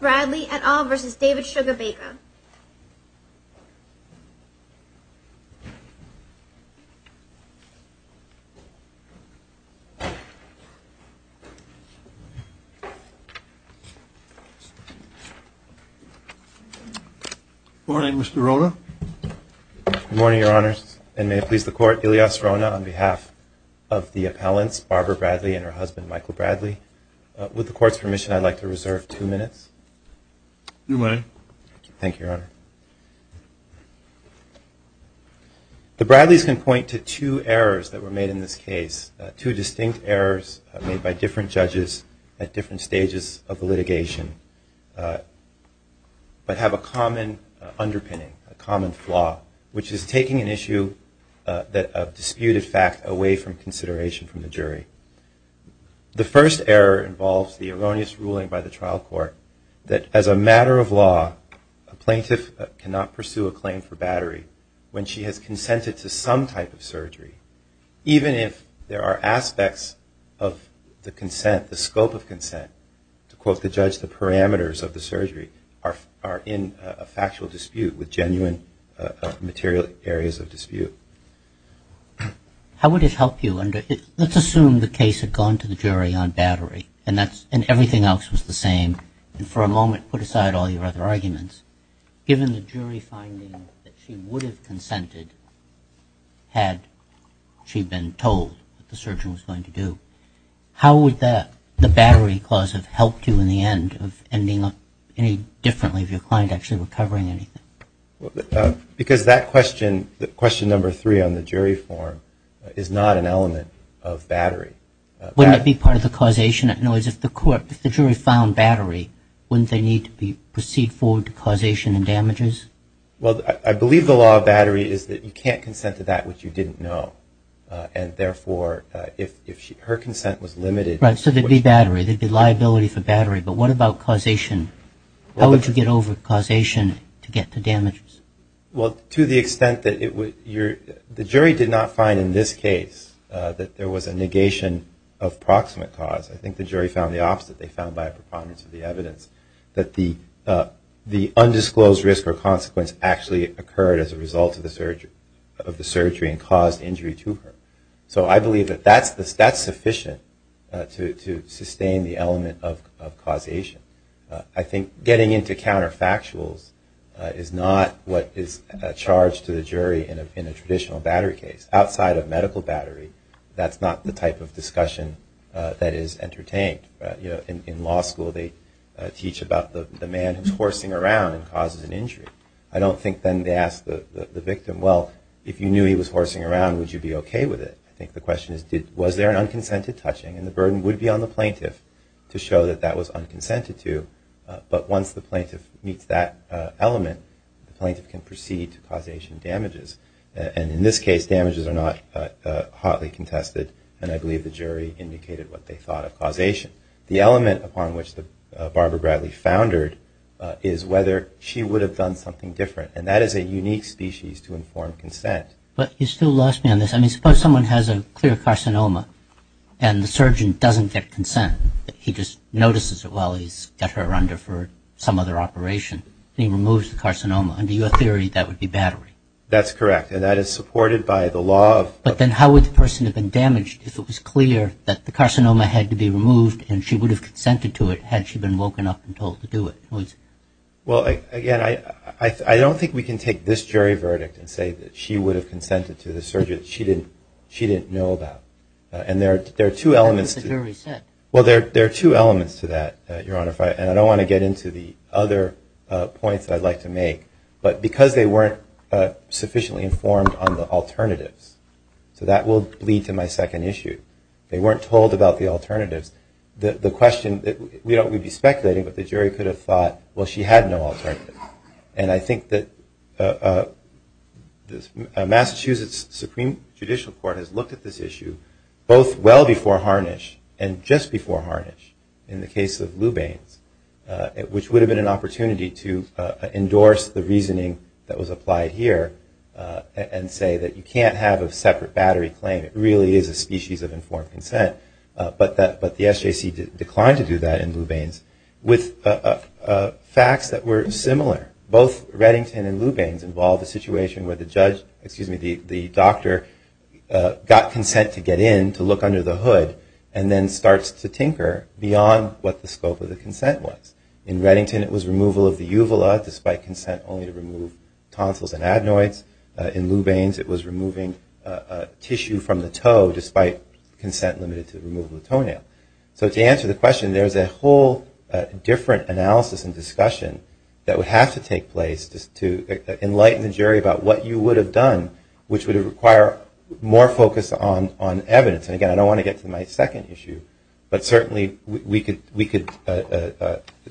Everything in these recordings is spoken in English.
Robert Bradley et al. v. David Sugarbaker Good morning, Mr. Rona. Good morning, Your Honor, and may it please the Court, Ilias Rona on behalf of the appellants, Barbara Bradley and her husband, Michael Bradley. With the Court's permission, I'd like to reserve two minutes. You may. Thank you, Your Honor. The Bradleys can point to two errors that were made in this case, two distinct errors made by different judges at different stages of the litigation, but have a common underpinning, a common flaw, which is taking an issue of disputed fact away from consideration from the jury. The first error involves the erroneous ruling by the trial court that, as a matter of law, a plaintiff cannot pursue a claim for battery when she has consented to some type of surgery, even if there are aspects of the consent, the scope of consent, to quote the judge, the parameters of the surgery, How would it help you? Let's assume the case had gone to the jury on battery and everything else was the same. And for a moment, put aside all your other arguments. Given the jury finding that she would have consented had she been told what the surgery was going to do, how would the battery clause have helped you in the end of ending up any differently if your client actually were covering anything? Because that question, question number three on the jury form, is not an element of battery. Wouldn't it be part of the causation? If the jury found battery, wouldn't they need to proceed forward to causation and damages? Well, I believe the law of battery is that you can't consent to that which you didn't know. And therefore, if her consent was limited... Right, so there'd be battery, there'd be liability for battery. But what about causation? How would you get over causation to get to damages? Well, to the extent that it would... The jury did not find in this case that there was a negation of proximate cause. I think the jury found the opposite. They found by a preponderance of the evidence that the undisclosed risk or consequence actually occurred as a result of the surgery and caused injury to her. So I believe that that's sufficient to sustain the element of causation. I think getting into counterfactuals is not what is charged to the jury in a traditional battery case. Outside of medical battery, that's not the type of discussion that is entertained. In law school, they teach about the man who's horsing around and causes an injury. Well, if you knew he was horsing around, would you be okay with it? I think the question is, was there an unconsented touching? And the burden would be on the plaintiff to show that that was unconsented to. But once the plaintiff meets that element, the plaintiff can proceed to causation damages. And in this case, damages are not hotly contested. And I believe the jury indicated what they thought of causation. The element upon which Barbara Bradley foundered is whether she would have done something different. And that is a unique species to inform consent. But you still lost me on this. I mean, suppose someone has a clear carcinoma and the surgeon doesn't get consent. He just notices it while he's got her under for some other operation. He removes the carcinoma. Under your theory, that would be battery. That's correct, and that is supported by the law. But then how would the person have been damaged if it was clear that the carcinoma had to be removed and she would have consented to it had she been woken up and told to do it? Well, again, I don't think we can take this jury verdict and say that she would have consented to the surgery that she didn't know about. And there are two elements to that, Your Honor. And I don't want to get into the other points that I'd like to make. But because they weren't sufficiently informed on the alternatives, so that will lead to my second issue. They weren't told about the alternatives. The question that we don't want to be speculating, but the jury could have thought, well, she had no alternative. And I think that Massachusetts Supreme Judicial Court has looked at this issue, both well before Harnish and just before Harnish in the case of Lubain's, which would have been an opportunity to endorse the reasoning that was applied here and say that you can't have a separate battery claim. It really is a species of informed consent. But the SJC declined to do that in Lubain's with facts that were similar. Both Reddington and Lubain's involved a situation where the judge, excuse me, the doctor got consent to get in to look under the hood and then starts to tinker beyond what the scope of the consent was. In Reddington, it was removal of the uvula despite consent only to remove tonsils and adenoids. In Lubain's, it was removing tissue from the toe despite consent limited to remove the toenail. So to answer the question, there's a whole different analysis and discussion that would have to take place to enlighten the jury about what you would have done, which would require more focus on evidence. And, again, I don't want to get to my second issue, but certainly we could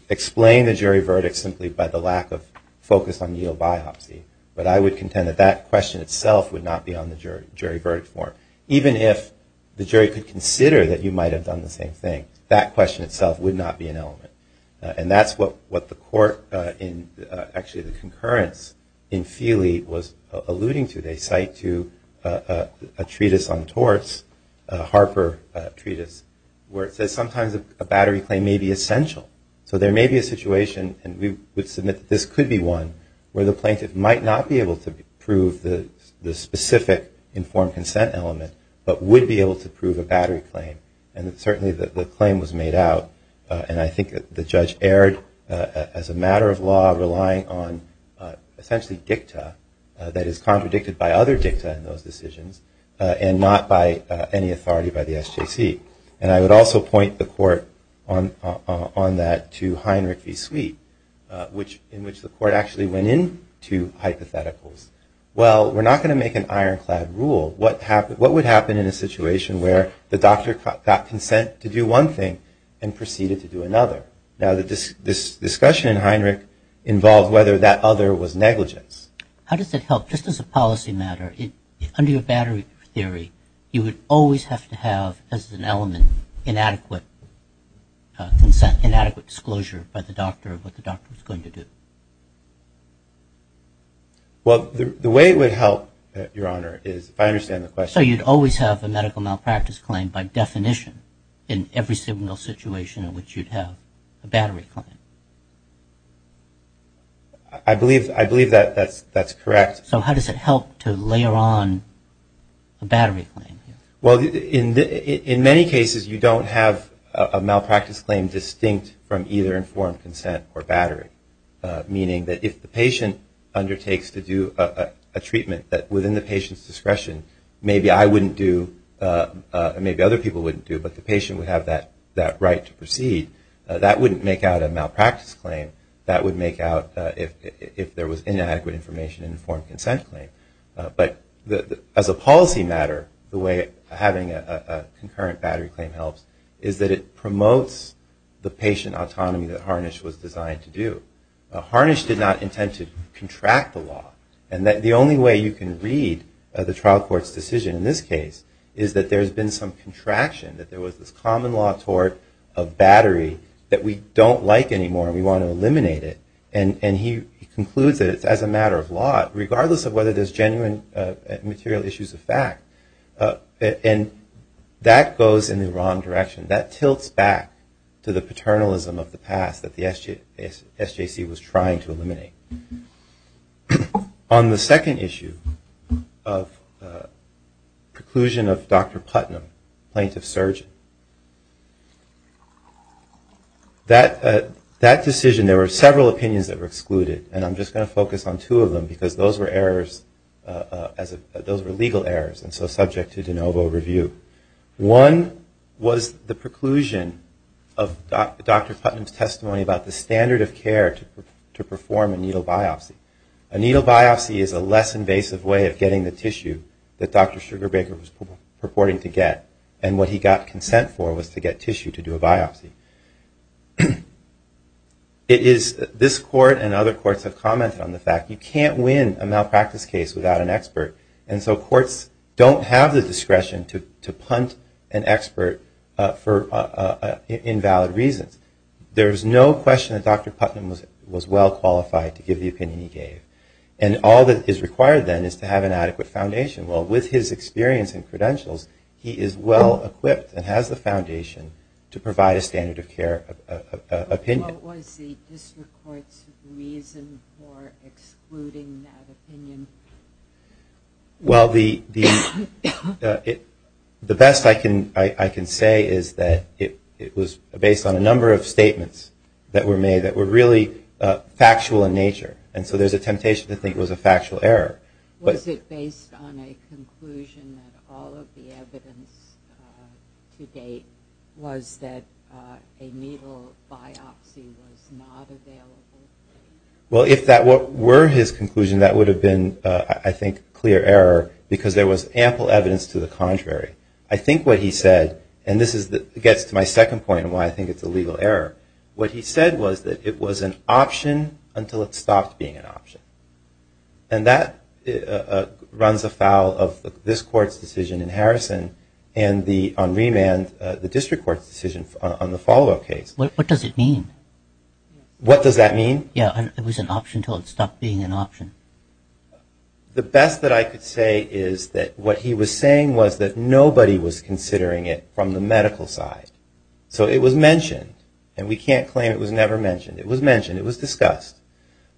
explain the jury verdict simply by the lack of focus on needle biopsy. But I would contend that that question itself would not be on the jury verdict form. Even if the jury could consider that you might have done the same thing, that question itself would not be an element. And that's what the court in actually the concurrence in Feely was alluding to. They cite to a treatise on torts, a Harper treatise, where it says sometimes a battery claim may be essential. So there may be a situation, and we would submit that this could be one, where the plaintiff might not be able to prove the specific informed consent element, but would be able to prove a battery claim. And certainly the claim was made out, and I think the judge erred as a matter of law relying on essentially dicta that is contradicted by other dicta in those decisions and not by any authority by the SJC. And I would also point the court on that to Heinrich v. Sweet, in which the court actually went into hypotheticals. Well, we're not going to make an ironclad rule. What would happen in a situation where the doctor got consent to do one thing and proceeded to do another? Now this discussion in Heinrich involved whether that other was negligence. How does that help? Just as a policy matter, under your battery theory, you would always have to have as an element inadequate consent, inadequate disclosure by the doctor of what the doctor was going to do. Well, the way it would help, Your Honor, is if I understand the question. So you'd always have a medical malpractice claim by definition in every single situation in which you'd have a battery claim. I believe that that's correct. So how does it help to layer on a battery claim? Well, in many cases, you don't have a malpractice claim distinct from either informed consent or battery, meaning that if the patient undertakes to do a treatment that within the patient's discretion, maybe I wouldn't do, maybe other people wouldn't do, but the patient would have that right to proceed, that wouldn't make out a malpractice claim. That would make out if there was inadequate information in an informed consent claim. But as a policy matter, the way having a concurrent battery claim helps is that it promotes the patient autonomy that Harnish was designed to do. Harnish did not intend to contract the law. And the only way you can read the trial court's decision in this case is that there's been some contraction, that there was this common law toward a battery that we don't like anymore and we want to eliminate it. And he concludes that it's as a matter of law, regardless of whether there's genuine material issues of fact. And that goes in the wrong direction. That tilts back to the paternalism of the past that the SJC was trying to eliminate. On the second issue of preclusion of Dr. Putnam, plaintiff-surgeon, that decision, there were several opinions that were excluded, and I'm just going to focus on two of them because those were legal errors and so subject to de novo review. One was the preclusion of Dr. Putnam's testimony about the standard of care to perform a needle biopsy. A needle biopsy is a less invasive way of getting the tissue that Dr. Sugarbaker was purporting to get. And what he got consent for was to get tissue to do a biopsy. It is this court and other courts have commented on the fact you can't win a malpractice case without an expert. And so courts don't have the discretion to punt an expert for invalid reasons. There's no question that Dr. Putnam was well qualified to give the opinion he gave. And all that is required then is to have an adequate foundation. Well, with his experience and credentials, he is well equipped and has the foundation to provide a standard of care opinion. What was the district court's reason for excluding that opinion? Well, the best I can say is that it was based on a number of statements that were made that were really factual in nature. And so there's a temptation to think it was a factual error. Was it based on a conclusion that all of the evidence to date was that a needle biopsy was not available? Well, if that were his conclusion, that would have been, I think, clear error because there was ample evidence to the contrary. I think what he said, and this gets to my second point and why I think it's a legal error, what he said was that it was an option until it stopped being an option. And that runs afoul of this court's decision in Harrison and on remand, the district court's decision on the follow-up case. What does it mean? What does that mean? Yeah, it was an option until it stopped being an option. The best that I could say is that what he was saying was that nobody was considering it from the medical side. So it was mentioned, and we can't claim it was never mentioned. It was mentioned. It was discussed.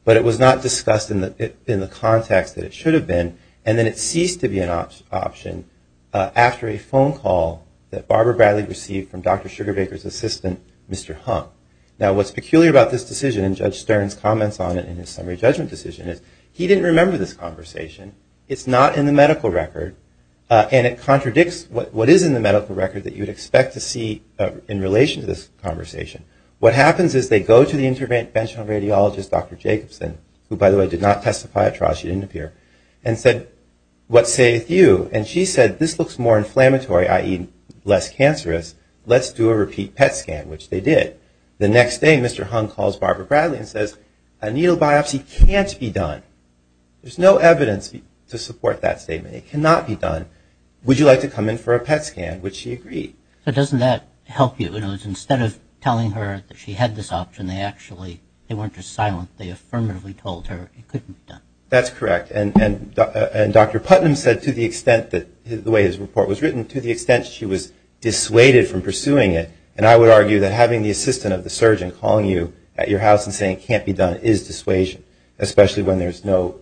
But it was not discussed in the context that it should have been, and then it ceased to be an option after a phone call that Barbara Bradley received from Dr. Sugarbaker's assistant, Mr. Hunt. Now, what's peculiar about this decision, and Judge Stern's comments on it in his summary judgment decision, is he didn't remember this conversation. It's not in the medical record, and it contradicts what is in the medical record that you would expect to see in relation to this conversation. What happens is they go to the interventional radiologist, Dr. Jacobson, who, by the way, did not testify at trial, she didn't appear, and said, what sayeth you? And she said, this looks more inflammatory, i.e., less cancerous. Let's do a repeat PET scan, which they did. The next day, Mr. Hunt calls Barbara Bradley and says, a needle biopsy can't be done. There's no evidence to support that statement. It cannot be done. Would you like to come in for a PET scan? Which she agreed. But doesn't that help you? Instead of telling her that she had this option, they actually weren't just silent. They affirmatively told her it couldn't be done. That's correct. And Dr. Putnam said, to the extent that the way his report was written, to the extent she was dissuaded from pursuing it, and I would argue that having the assistant of the surgeon calling you at your house and saying it can't be done is dissuasion, especially when there's no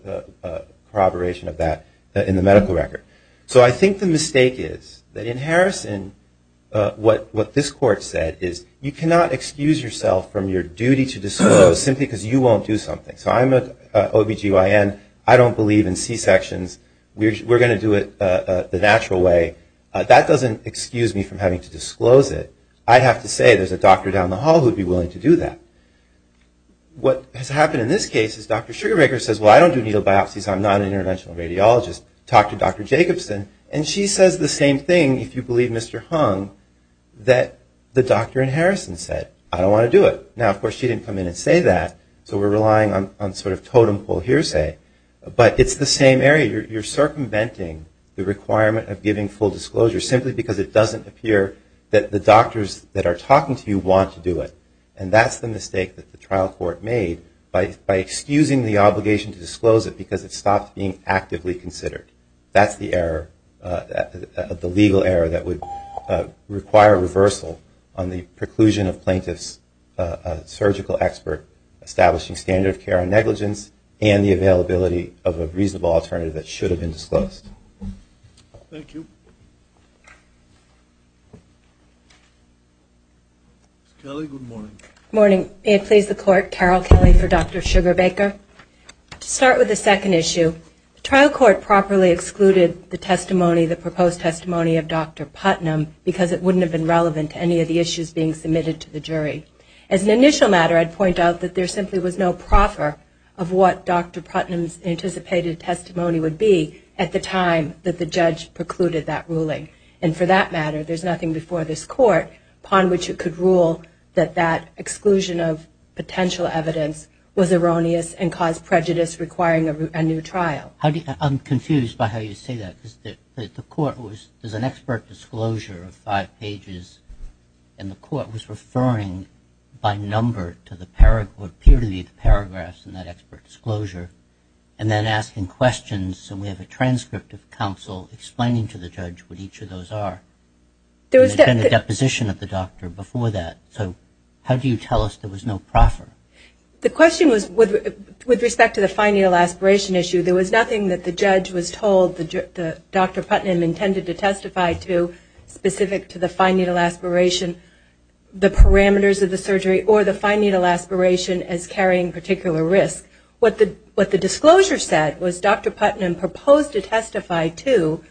corroboration of that in the medical record. So I think the mistake is that in Harrison, what this court said is you cannot excuse yourself from your duty to disclose simply because you won't do something. So I'm an OBGYN. I don't believe in C-sections. We're going to do it the natural way. That doesn't excuse me from having to disclose it. I have to say there's a doctor down the hall who would be willing to do that. What has happened in this case is Dr. Sugarbaker says, well, I don't do needle biopsies. I'm not an interventional radiologist. Talk to Dr. Jacobson. And she says the same thing, if you believe Mr. Hung, that the doctor in Harrison said, I don't want to do it. Now, of course, she didn't come in and say that, so we're relying on sort of totem pole hearsay. But it's the same area. You're circumventing the requirement of giving full disclosure simply because it doesn't appear that the doctors that are talking to you want to do it. And that's the mistake that the trial court made by excusing the obligation to That's the error, the legal error that would require reversal on the preclusion of plaintiff's surgical expert establishing standard of care on negligence and the availability of a reasonable alternative that should have been disclosed. Thank you. Good morning. Good morning. May it please the court, Carol Kelly for Dr. Sugarbaker. To start with the second issue, the trial court properly excluded the testimony, the proposed testimony of Dr. Putnam, because it wouldn't have been relevant to any of the issues being submitted to the jury. As an initial matter, I'd point out that there simply was no proffer of what Dr. Putnam's anticipated testimony would be at the time that the judge precluded that ruling. And for that matter, there's nothing before this court upon which it could rule that that would be the case. I think that the trial court should have been able to do that and cause prejudice requiring a new trial. I'm confused by how you say that. The court was, there's an expert disclosure of five pages and the court was referring by number to the paragraph, what appeared to be the paragraphs in that expert disclosure, and then asking questions. So we have a transcript of counsel explaining to the judge what each of those are. There's been a deposition of the doctor before that. So how do you tell us there was no proffer? The question was, with respect to the fine needle aspiration issue, there was nothing that the judge was told that Dr. Putnam intended to testify to specific to the fine needle aspiration, the parameters of the surgery, or the fine needle aspiration as carrying particular risk. What the disclosure said was Dr. Putnam proposed to testify to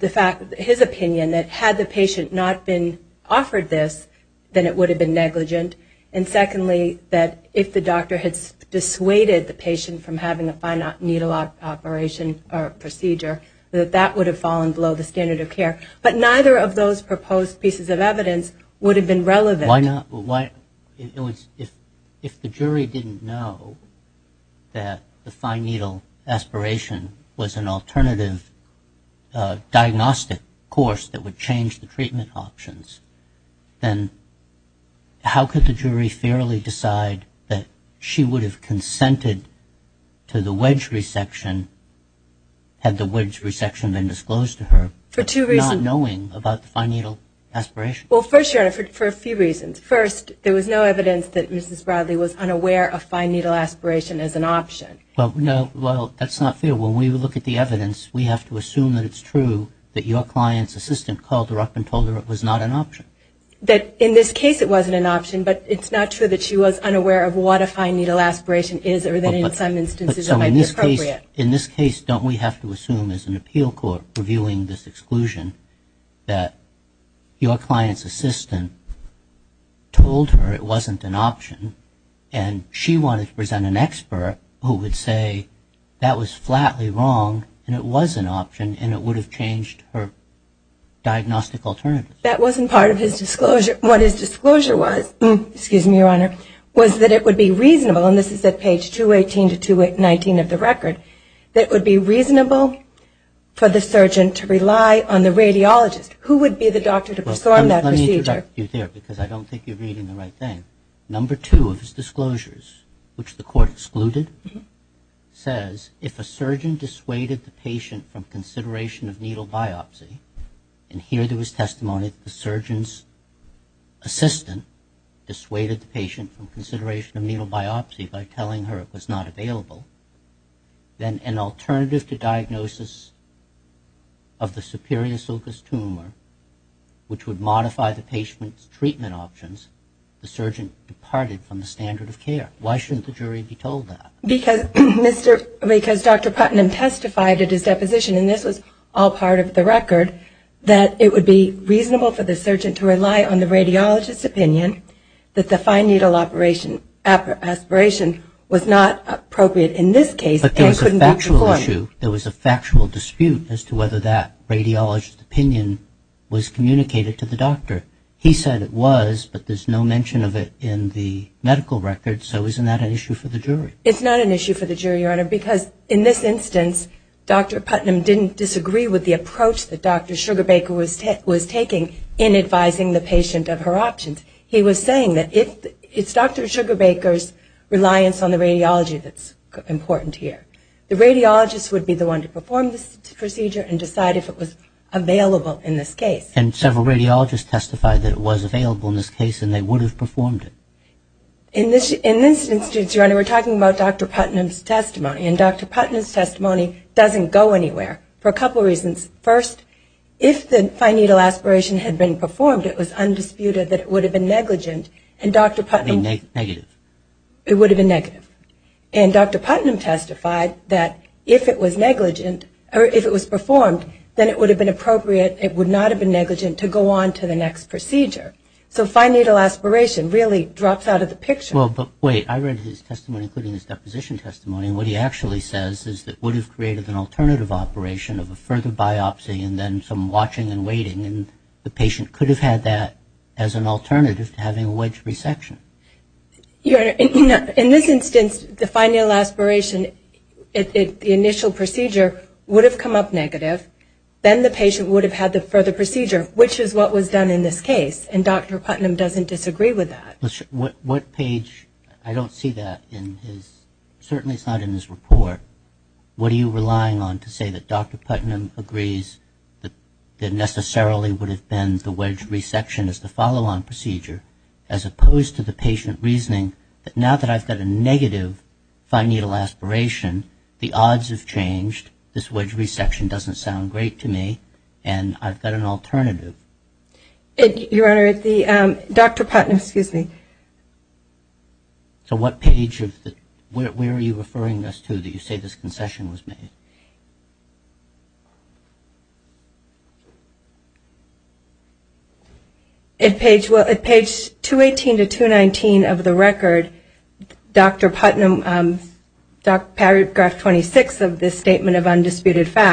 the fact, his opinion, that had the patient not been offered this, then it would have been negligent. And secondly, that if the doctor had dissuaded the patient from having a fine needle operation or procedure, that that would have fallen below the standard of care. But neither of those proposed pieces of evidence would have been relevant. Why not, if the jury didn't know that the fine needle aspiration was an alternative diagnostic course that would change the treatment options, then how could the jury fairly decide that she would have consented to the wedge resection had the wedge resection been disclosed to her, not knowing about the fine needle aspiration? Well, for a few reasons. First, there was no evidence that Mrs. Bradley was unaware of fine needle aspiration as an option. Well, that's not fair. When we look at the evidence, we have to assume that it's true that your client's assistant called her up and told her it was not an option. That in this case it wasn't an option, but it's not true that she was unaware of what a fine needle aspiration is or that in some instances it might be appropriate. In this case, don't we have to assume as an appeal court reviewing this exclusion that your client's assistant told her it wasn't an option and she wanted to present an expert who would say that was flatly wrong and it was an option and it would have changed her diagnostic alternatives? That wasn't part of his disclosure. What his disclosure was, excuse me, Your Honor, was that it would be reasonable, and this is at page 218 to 219 of the record, that it would be reasonable for the surgeon to rely on the radiologist. Who would be the doctor to perform that procedure? Let me interrupt you there because I don't think you're reading the right thing. Number two of his disclosures, which the court excluded, says if a surgeon dissuaded the patient from consideration of needle biopsy, and here there was testimony that the surgeon's assistant dissuaded the patient from consideration of needle biopsy by telling her it was not available, then an alternative to diagnosis of the superior sulcus tumor, which would modify the patient's treatment options, the surgeon departed from the standard of care. Why shouldn't the jury be told that? Because Dr. Putnam testified at his deposition, and this was all part of the record, that it would be reasonable for the surgeon to rely on the radiologist's opinion that the fine needle aspiration was not appropriate in this case. But there was a factual issue, there was a factual dispute as to whether that radiologist's opinion was communicated to the doctor. He said it was, but there's no mention of it in the medical record, so isn't that an issue for the jury? It's not an issue for the jury, Your Honor, because in this instance Dr. Putnam didn't disagree with the approach that Dr. Sugarbaker was taking in advising the patient of her options. He was saying that it's Dr. Sugarbaker's reliance on the radiology that's important here. The radiologist would be the one to perform this procedure and decide if it was available in this case. And several radiologists testified that it was available in this case and they would have performed it. In this instance, Your Honor, we're talking about Dr. Putnam's testimony and Dr. Putnam's testimony doesn't go anywhere for a couple reasons. First, if the fine needle aspiration had been performed, it was undisputed that it would have been negligent and Dr. Putnam It would have been negative. It would have been negative. And Dr. Putnam testified that if it was negligent or if it was performed, then it would have been appropriate, it would not have been negligent to go on to the next procedure. So fine needle aspiration really drops out of the picture. Well, but wait. I read his testimony, including his deposition testimony, and what he actually says is that it would have created an alternative operation of a further biopsy and then some watching and waiting and the patient could have had that as an alternative to having a wedge resection. Your Honor, in this instance, the fine needle aspiration, the initial procedure would have come up negative. Then the patient would have had the further procedure, which is what was done in this case. And Dr. Putnam doesn't disagree with that. What page – I don't see that in his – certainly it's not in his report. What are you relying on to say that Dr. Putnam agrees that necessarily would have been the wedge resection as the follow-on procedure as opposed to the patient reasoning that now that I've got a negative fine needle aspiration, the odds have changed, this wedge resection doesn't sound great to me, and I've got an alternative. Your Honor, Dr. Putnam – excuse me. So what page of the – where are you referring us to that you say this concession was made? At page 218 to 219 of the record, Dr. Putnam, paragraph 26 of this statement of whether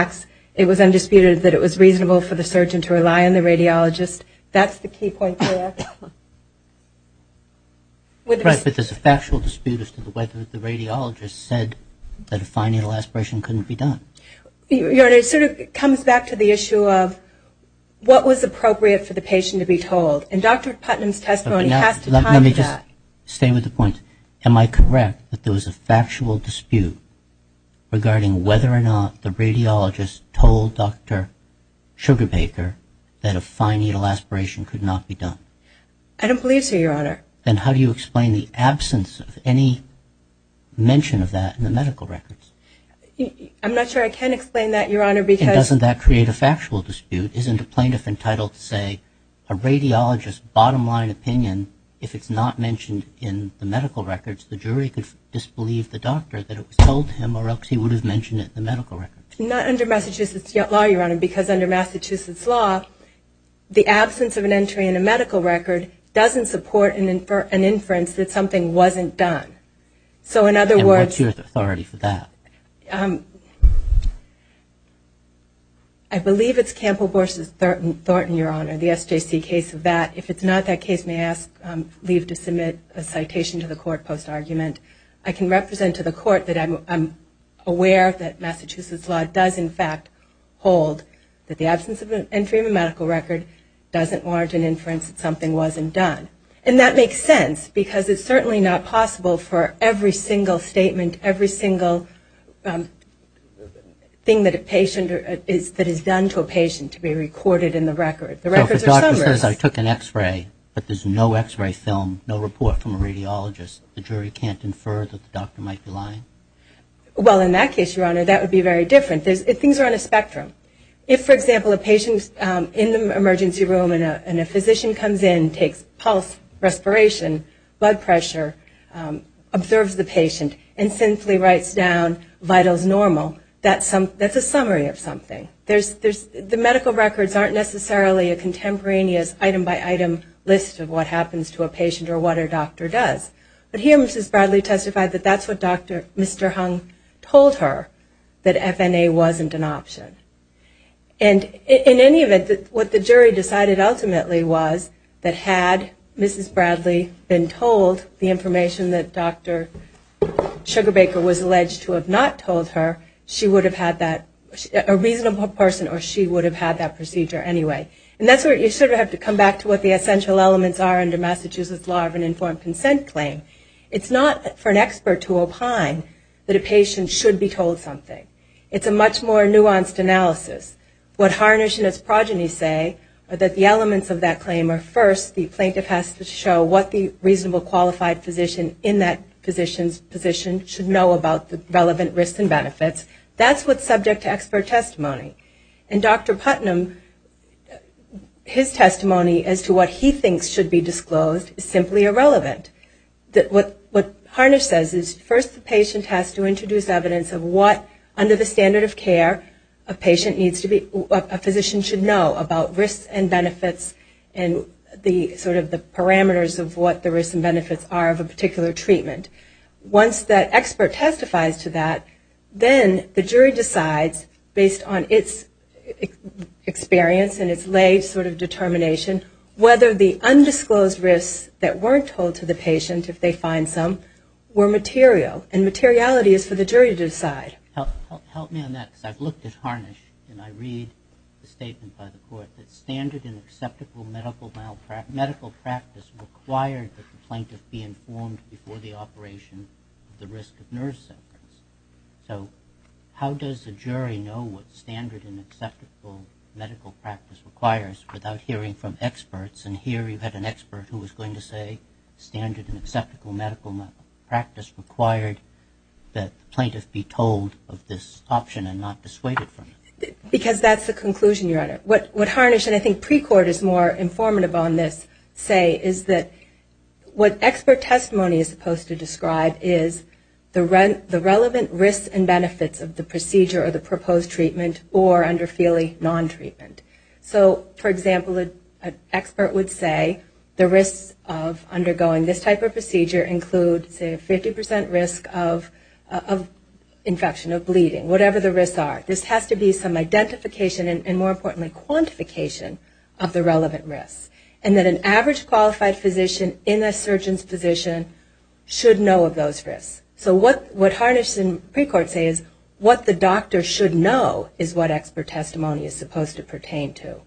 it was reasonable for the surgeon to rely on the radiologist. That's the key point there. Right, but there's a factual dispute as to whether the radiologist said that a fine needle aspiration couldn't be done. Your Honor, it sort of comes back to the issue of what was appropriate for the patient to be told. And Dr. Putnam's testimony has to comment to that. Let me just stay with the point. Am I correct that there was a factual dispute regarding whether or not the sugar baker that a fine needle aspiration could not be done? I don't believe so, Your Honor. Then how do you explain the absence of any mention of that in the medical records? I'm not sure I can explain that, Your Honor, because – And doesn't that create a factual dispute? Isn't a plaintiff entitled to say a radiologist's bottom line opinion, if it's not mentioned in the medical records, the jury could disbelieve the doctor that it was told to him or else he would have mentioned it in the medical records? Not under Massachusetts law, Your Honor, because under Massachusetts law, the absence of an entry in a medical record doesn't support an inference that something wasn't done. So in other words – And what's your authority for that? I believe it's Campbell versus Thornton, Your Honor, the SJC case of that. If it's not that case, may I leave to submit a citation to the court post argument? I can represent to the court that I'm aware that Massachusetts law does, in fact, hold that the absence of an entry in a medical record doesn't warrant an inference that something wasn't done. And that makes sense, because it's certainly not possible for every single statement, every single thing that a patient – that is done to a patient to be recorded in the record. The records are summary. So if the doctor says, I took an x-ray, but there's no x-ray film, no report from a radiologist, the jury can't infer that the doctor might be lying? Well, in that case, Your Honor, that would be very different. Things are on a spectrum. If, for example, a patient's in the emergency room and a physician comes in, takes pulse, respiration, blood pressure, observes the patient, and simply writes down vitals normal, that's a summary of something. The medical records aren't necessarily a contemporaneous item by item list of what happens to a patient or what a doctor does. But here Mrs. Bradley testified that that's what Dr. Mr. Hung told her, that FNA wasn't an option. And in any event, what the jury decided ultimately was that had Mrs. Bradley been told the information that Dr. Sugarbaker was alleged to have not told her, she would have had that – a reasonable person or she would have had that procedure anyway. And that's where you sort of have to come back to what the essential elements are under Massachusetts law of an informed consent claim. It's not for an expert to opine that a patient should be told something. It's a much more nuanced analysis. What Harnish and his progeny say are that the elements of that claim are first, the plaintiff has to show what the reasonable qualified physician in that physician's position should know about the relevant risks and benefits. That's what's subject to expert testimony. And Dr. Putnam, his testimony as to what he thinks should be disclosed is simply irrelevant. What Harnish says is first the patient has to introduce evidence of what, under the standard of care, a physician should know about risks and benefits and sort of the parameters of what the risks and benefits are of a particular treatment. Once that expert testifies to that, then the jury decides, based on its experience and its laid sort of determination, whether the undisclosed risks that weren't told to the patient, if they find some, were material. And materiality is for the jury to decide. Help me on that because I've looked at Harnish and I read the statement by the court that standard and acceptable medical practice required that the plaintiff be told of this option and not dissuaded from it. Because that's the conclusion, Your Honor. What Harnish, and I think pre-court is more informative on this, say, is that what expert testimony is supposed to disclose is not the case. It's not the case. It's not the case. And so what I'm trying to describe is the relevant risks and benefits of the procedure or the proposed treatment or under feeling non-treatment. So, for example, an expert would say the risks of undergoing this type of procedure include, say, a 50 percent risk of infection, of bleeding, whatever the risks are. This has to be some identification and, more importantly, quantification of the relevant risks. And that an average qualified physician in a surgeon's position should know of those risks. So what Harnish and pre-court say is what the doctor should know is what expert testimony is supposed to pertain to.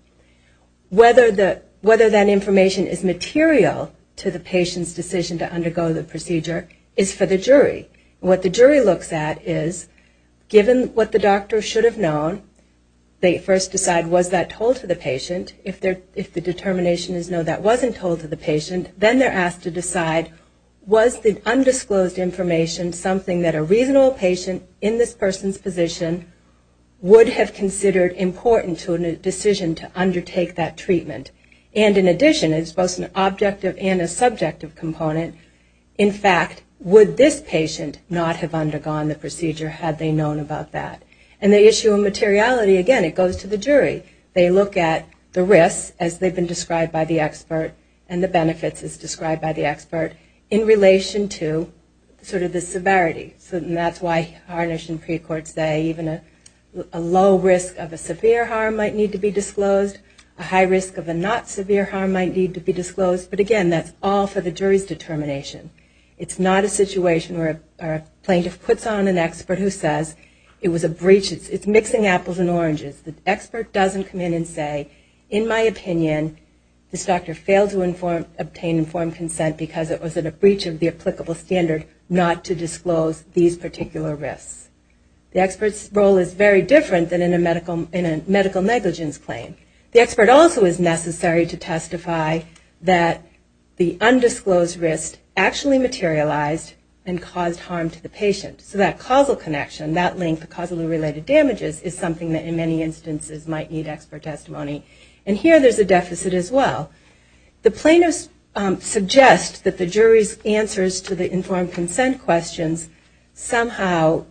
Whether that information is material to the patient's decision to undergo the procedure is for the jury. What the jury looks at is, given what the doctor should have known, they look at the risk, the determination is no, that wasn't told to the patient. Then they're asked to decide, was the undisclosed information something that a reasonable patient in this person's position would have considered important to a decision to undertake that treatment? And, in addition, it's both an objective and a subjective component. In fact, would this patient not have undergone the procedure had they known about that? And the issue of materiality, again, it goes to the jury. They look at the risks, as they've been described by the expert, and the benefits, as described by the expert, in relation to sort of the severity. And that's why Harnish and pre-court say even a low risk of a severe harm might need to be disclosed. A high risk of a not severe harm might need to be disclosed. But, again, that's all for the jury's determination. It's not a situation where a plaintiff puts on an expert who says it was a breach, it's mixing apples and oranges. The expert doesn't come in and say, in my opinion, this doctor failed to obtain informed consent because it was a breach of the applicable standard not to disclose these particular risks. The expert's role is very different than in a medical negligence claim. The expert also is necessary to testify that the undisclosed risk actually materialized and caused harm to the patient. So that causal connection, that link, the causally related damages, is something that in many instances might need expert testimony. And here there's a deficit as well. The plaintiffs suggest that the jury's answers to the informed consent questions somehow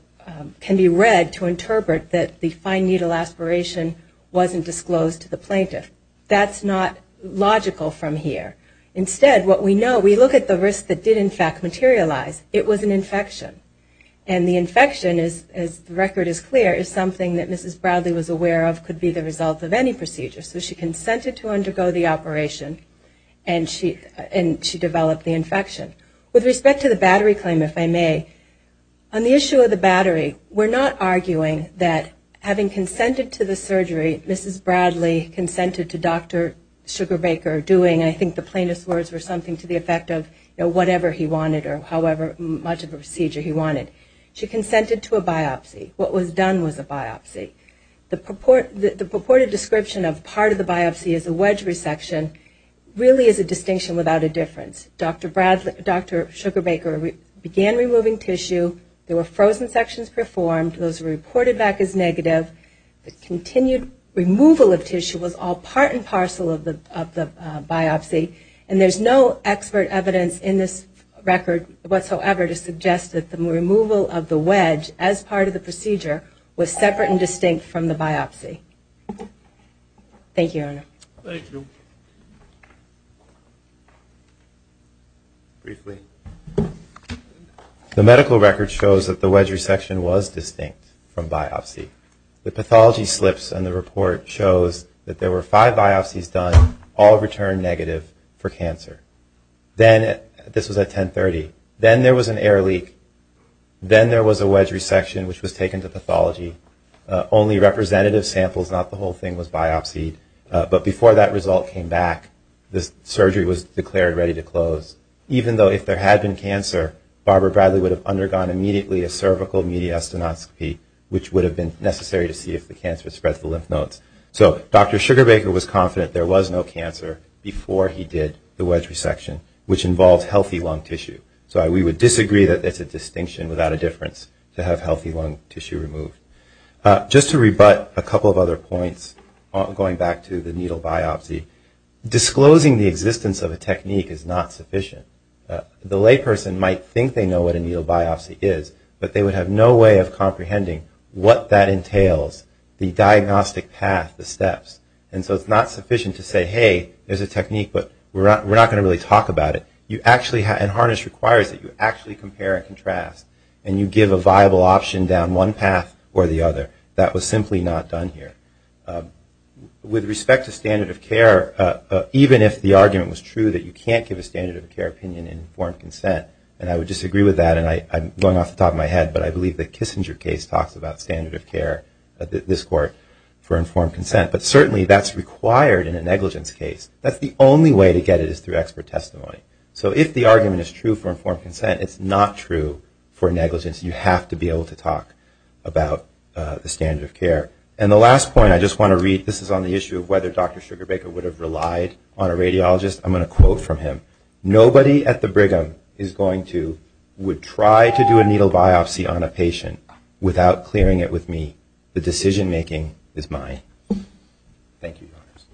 can be read to interpret that the fine needle aspiration wasn't disclosed to the plaintiff. That's not logical from here. Instead, what we know, we look at the risk that did, in fact, materialize. It was an infection. And the infection, as the record is clear, is something that Mrs. Bradley was aware of could be the result of any procedure. So she consented to undergo the operation and she developed the infection. With respect to the battery claim, if I may, on the issue of the battery, we're not arguing that having consented to the surgery, Mrs. Bradley consented to Dr. Sugarbaker doing, I think the plaintiff's words were something to the effect of whatever he wanted or however much of a procedure he wanted. She consented to a biopsy. What was done was a biopsy. The purported description of part of the biopsy as a wedge resection really is a distinction without a difference. Dr. Sugarbaker began removing tissue. There were frozen sections performed. Those reported back as negative. The continued removal of tissue was all part and parcel of the biopsy. And there's no expert evidence in this record whatsoever to suggest that the removal of the wedge as part of the procedure was separate and distinct from the biopsy. Thank you, Your Honor. Thank you. Briefly. The medical record shows that the wedge resection was distinct from biopsy. The pathology slips in the report shows that there were five biopsies done, all returned negative for cancer. This was at 1030. Then there was an air leak. Then there was a wedge resection, which was taken to pathology. Only representative samples, not the whole thing, was biopsied. But before that result came back, the surgery was declared ready to close. Even though if there had been cancer, Barbara Bradley would have undergone immediately a cervical mediastinoscopy, which would have been necessary to see if the cancer had spread to the lymph nodes. So Dr. Sugarbaker was confident there was no cancer before he did the wedge resection, which involves healthy lung tissue. So we would disagree that it's a distinction without a difference to have healthy lung tissue removed. Just to rebut a couple of other points going back to the needle biopsy. Disclosing the existence of a technique is not sufficient. The layperson might think they know what a needle biopsy is, but they would have no way of comprehending what that entails, the diagnostic path, the steps. And so it's not sufficient to say, hey, there's a technique, but we're not going to really talk about it. And Harness requires that you actually compare and contrast. And you give a viable option down one path or the other. That was simply not done here. With respect to standard of care, even if the argument was true that you can't give a standard of care opinion in informed consent, and I would disagree with that, and I'm going off the top of my head, but I believe the Kissinger case talks about standard of care, this court, for informed consent. But certainly that's required in a negligence case. That's the only way to get it is through expert testimony. So if the argument is true for informed consent, it's not true for negligence. You have to be able to talk about the standard of care. And the last point I just want to read, this is on the issue of whether Dr. Sugarbaker would have relied on a radiologist. I'm going to quote from him. Nobody at the Brigham is going to, would try to do a needle biopsy on a patient without clearing it with me. The decision making is mine. Thank you, Your Honors.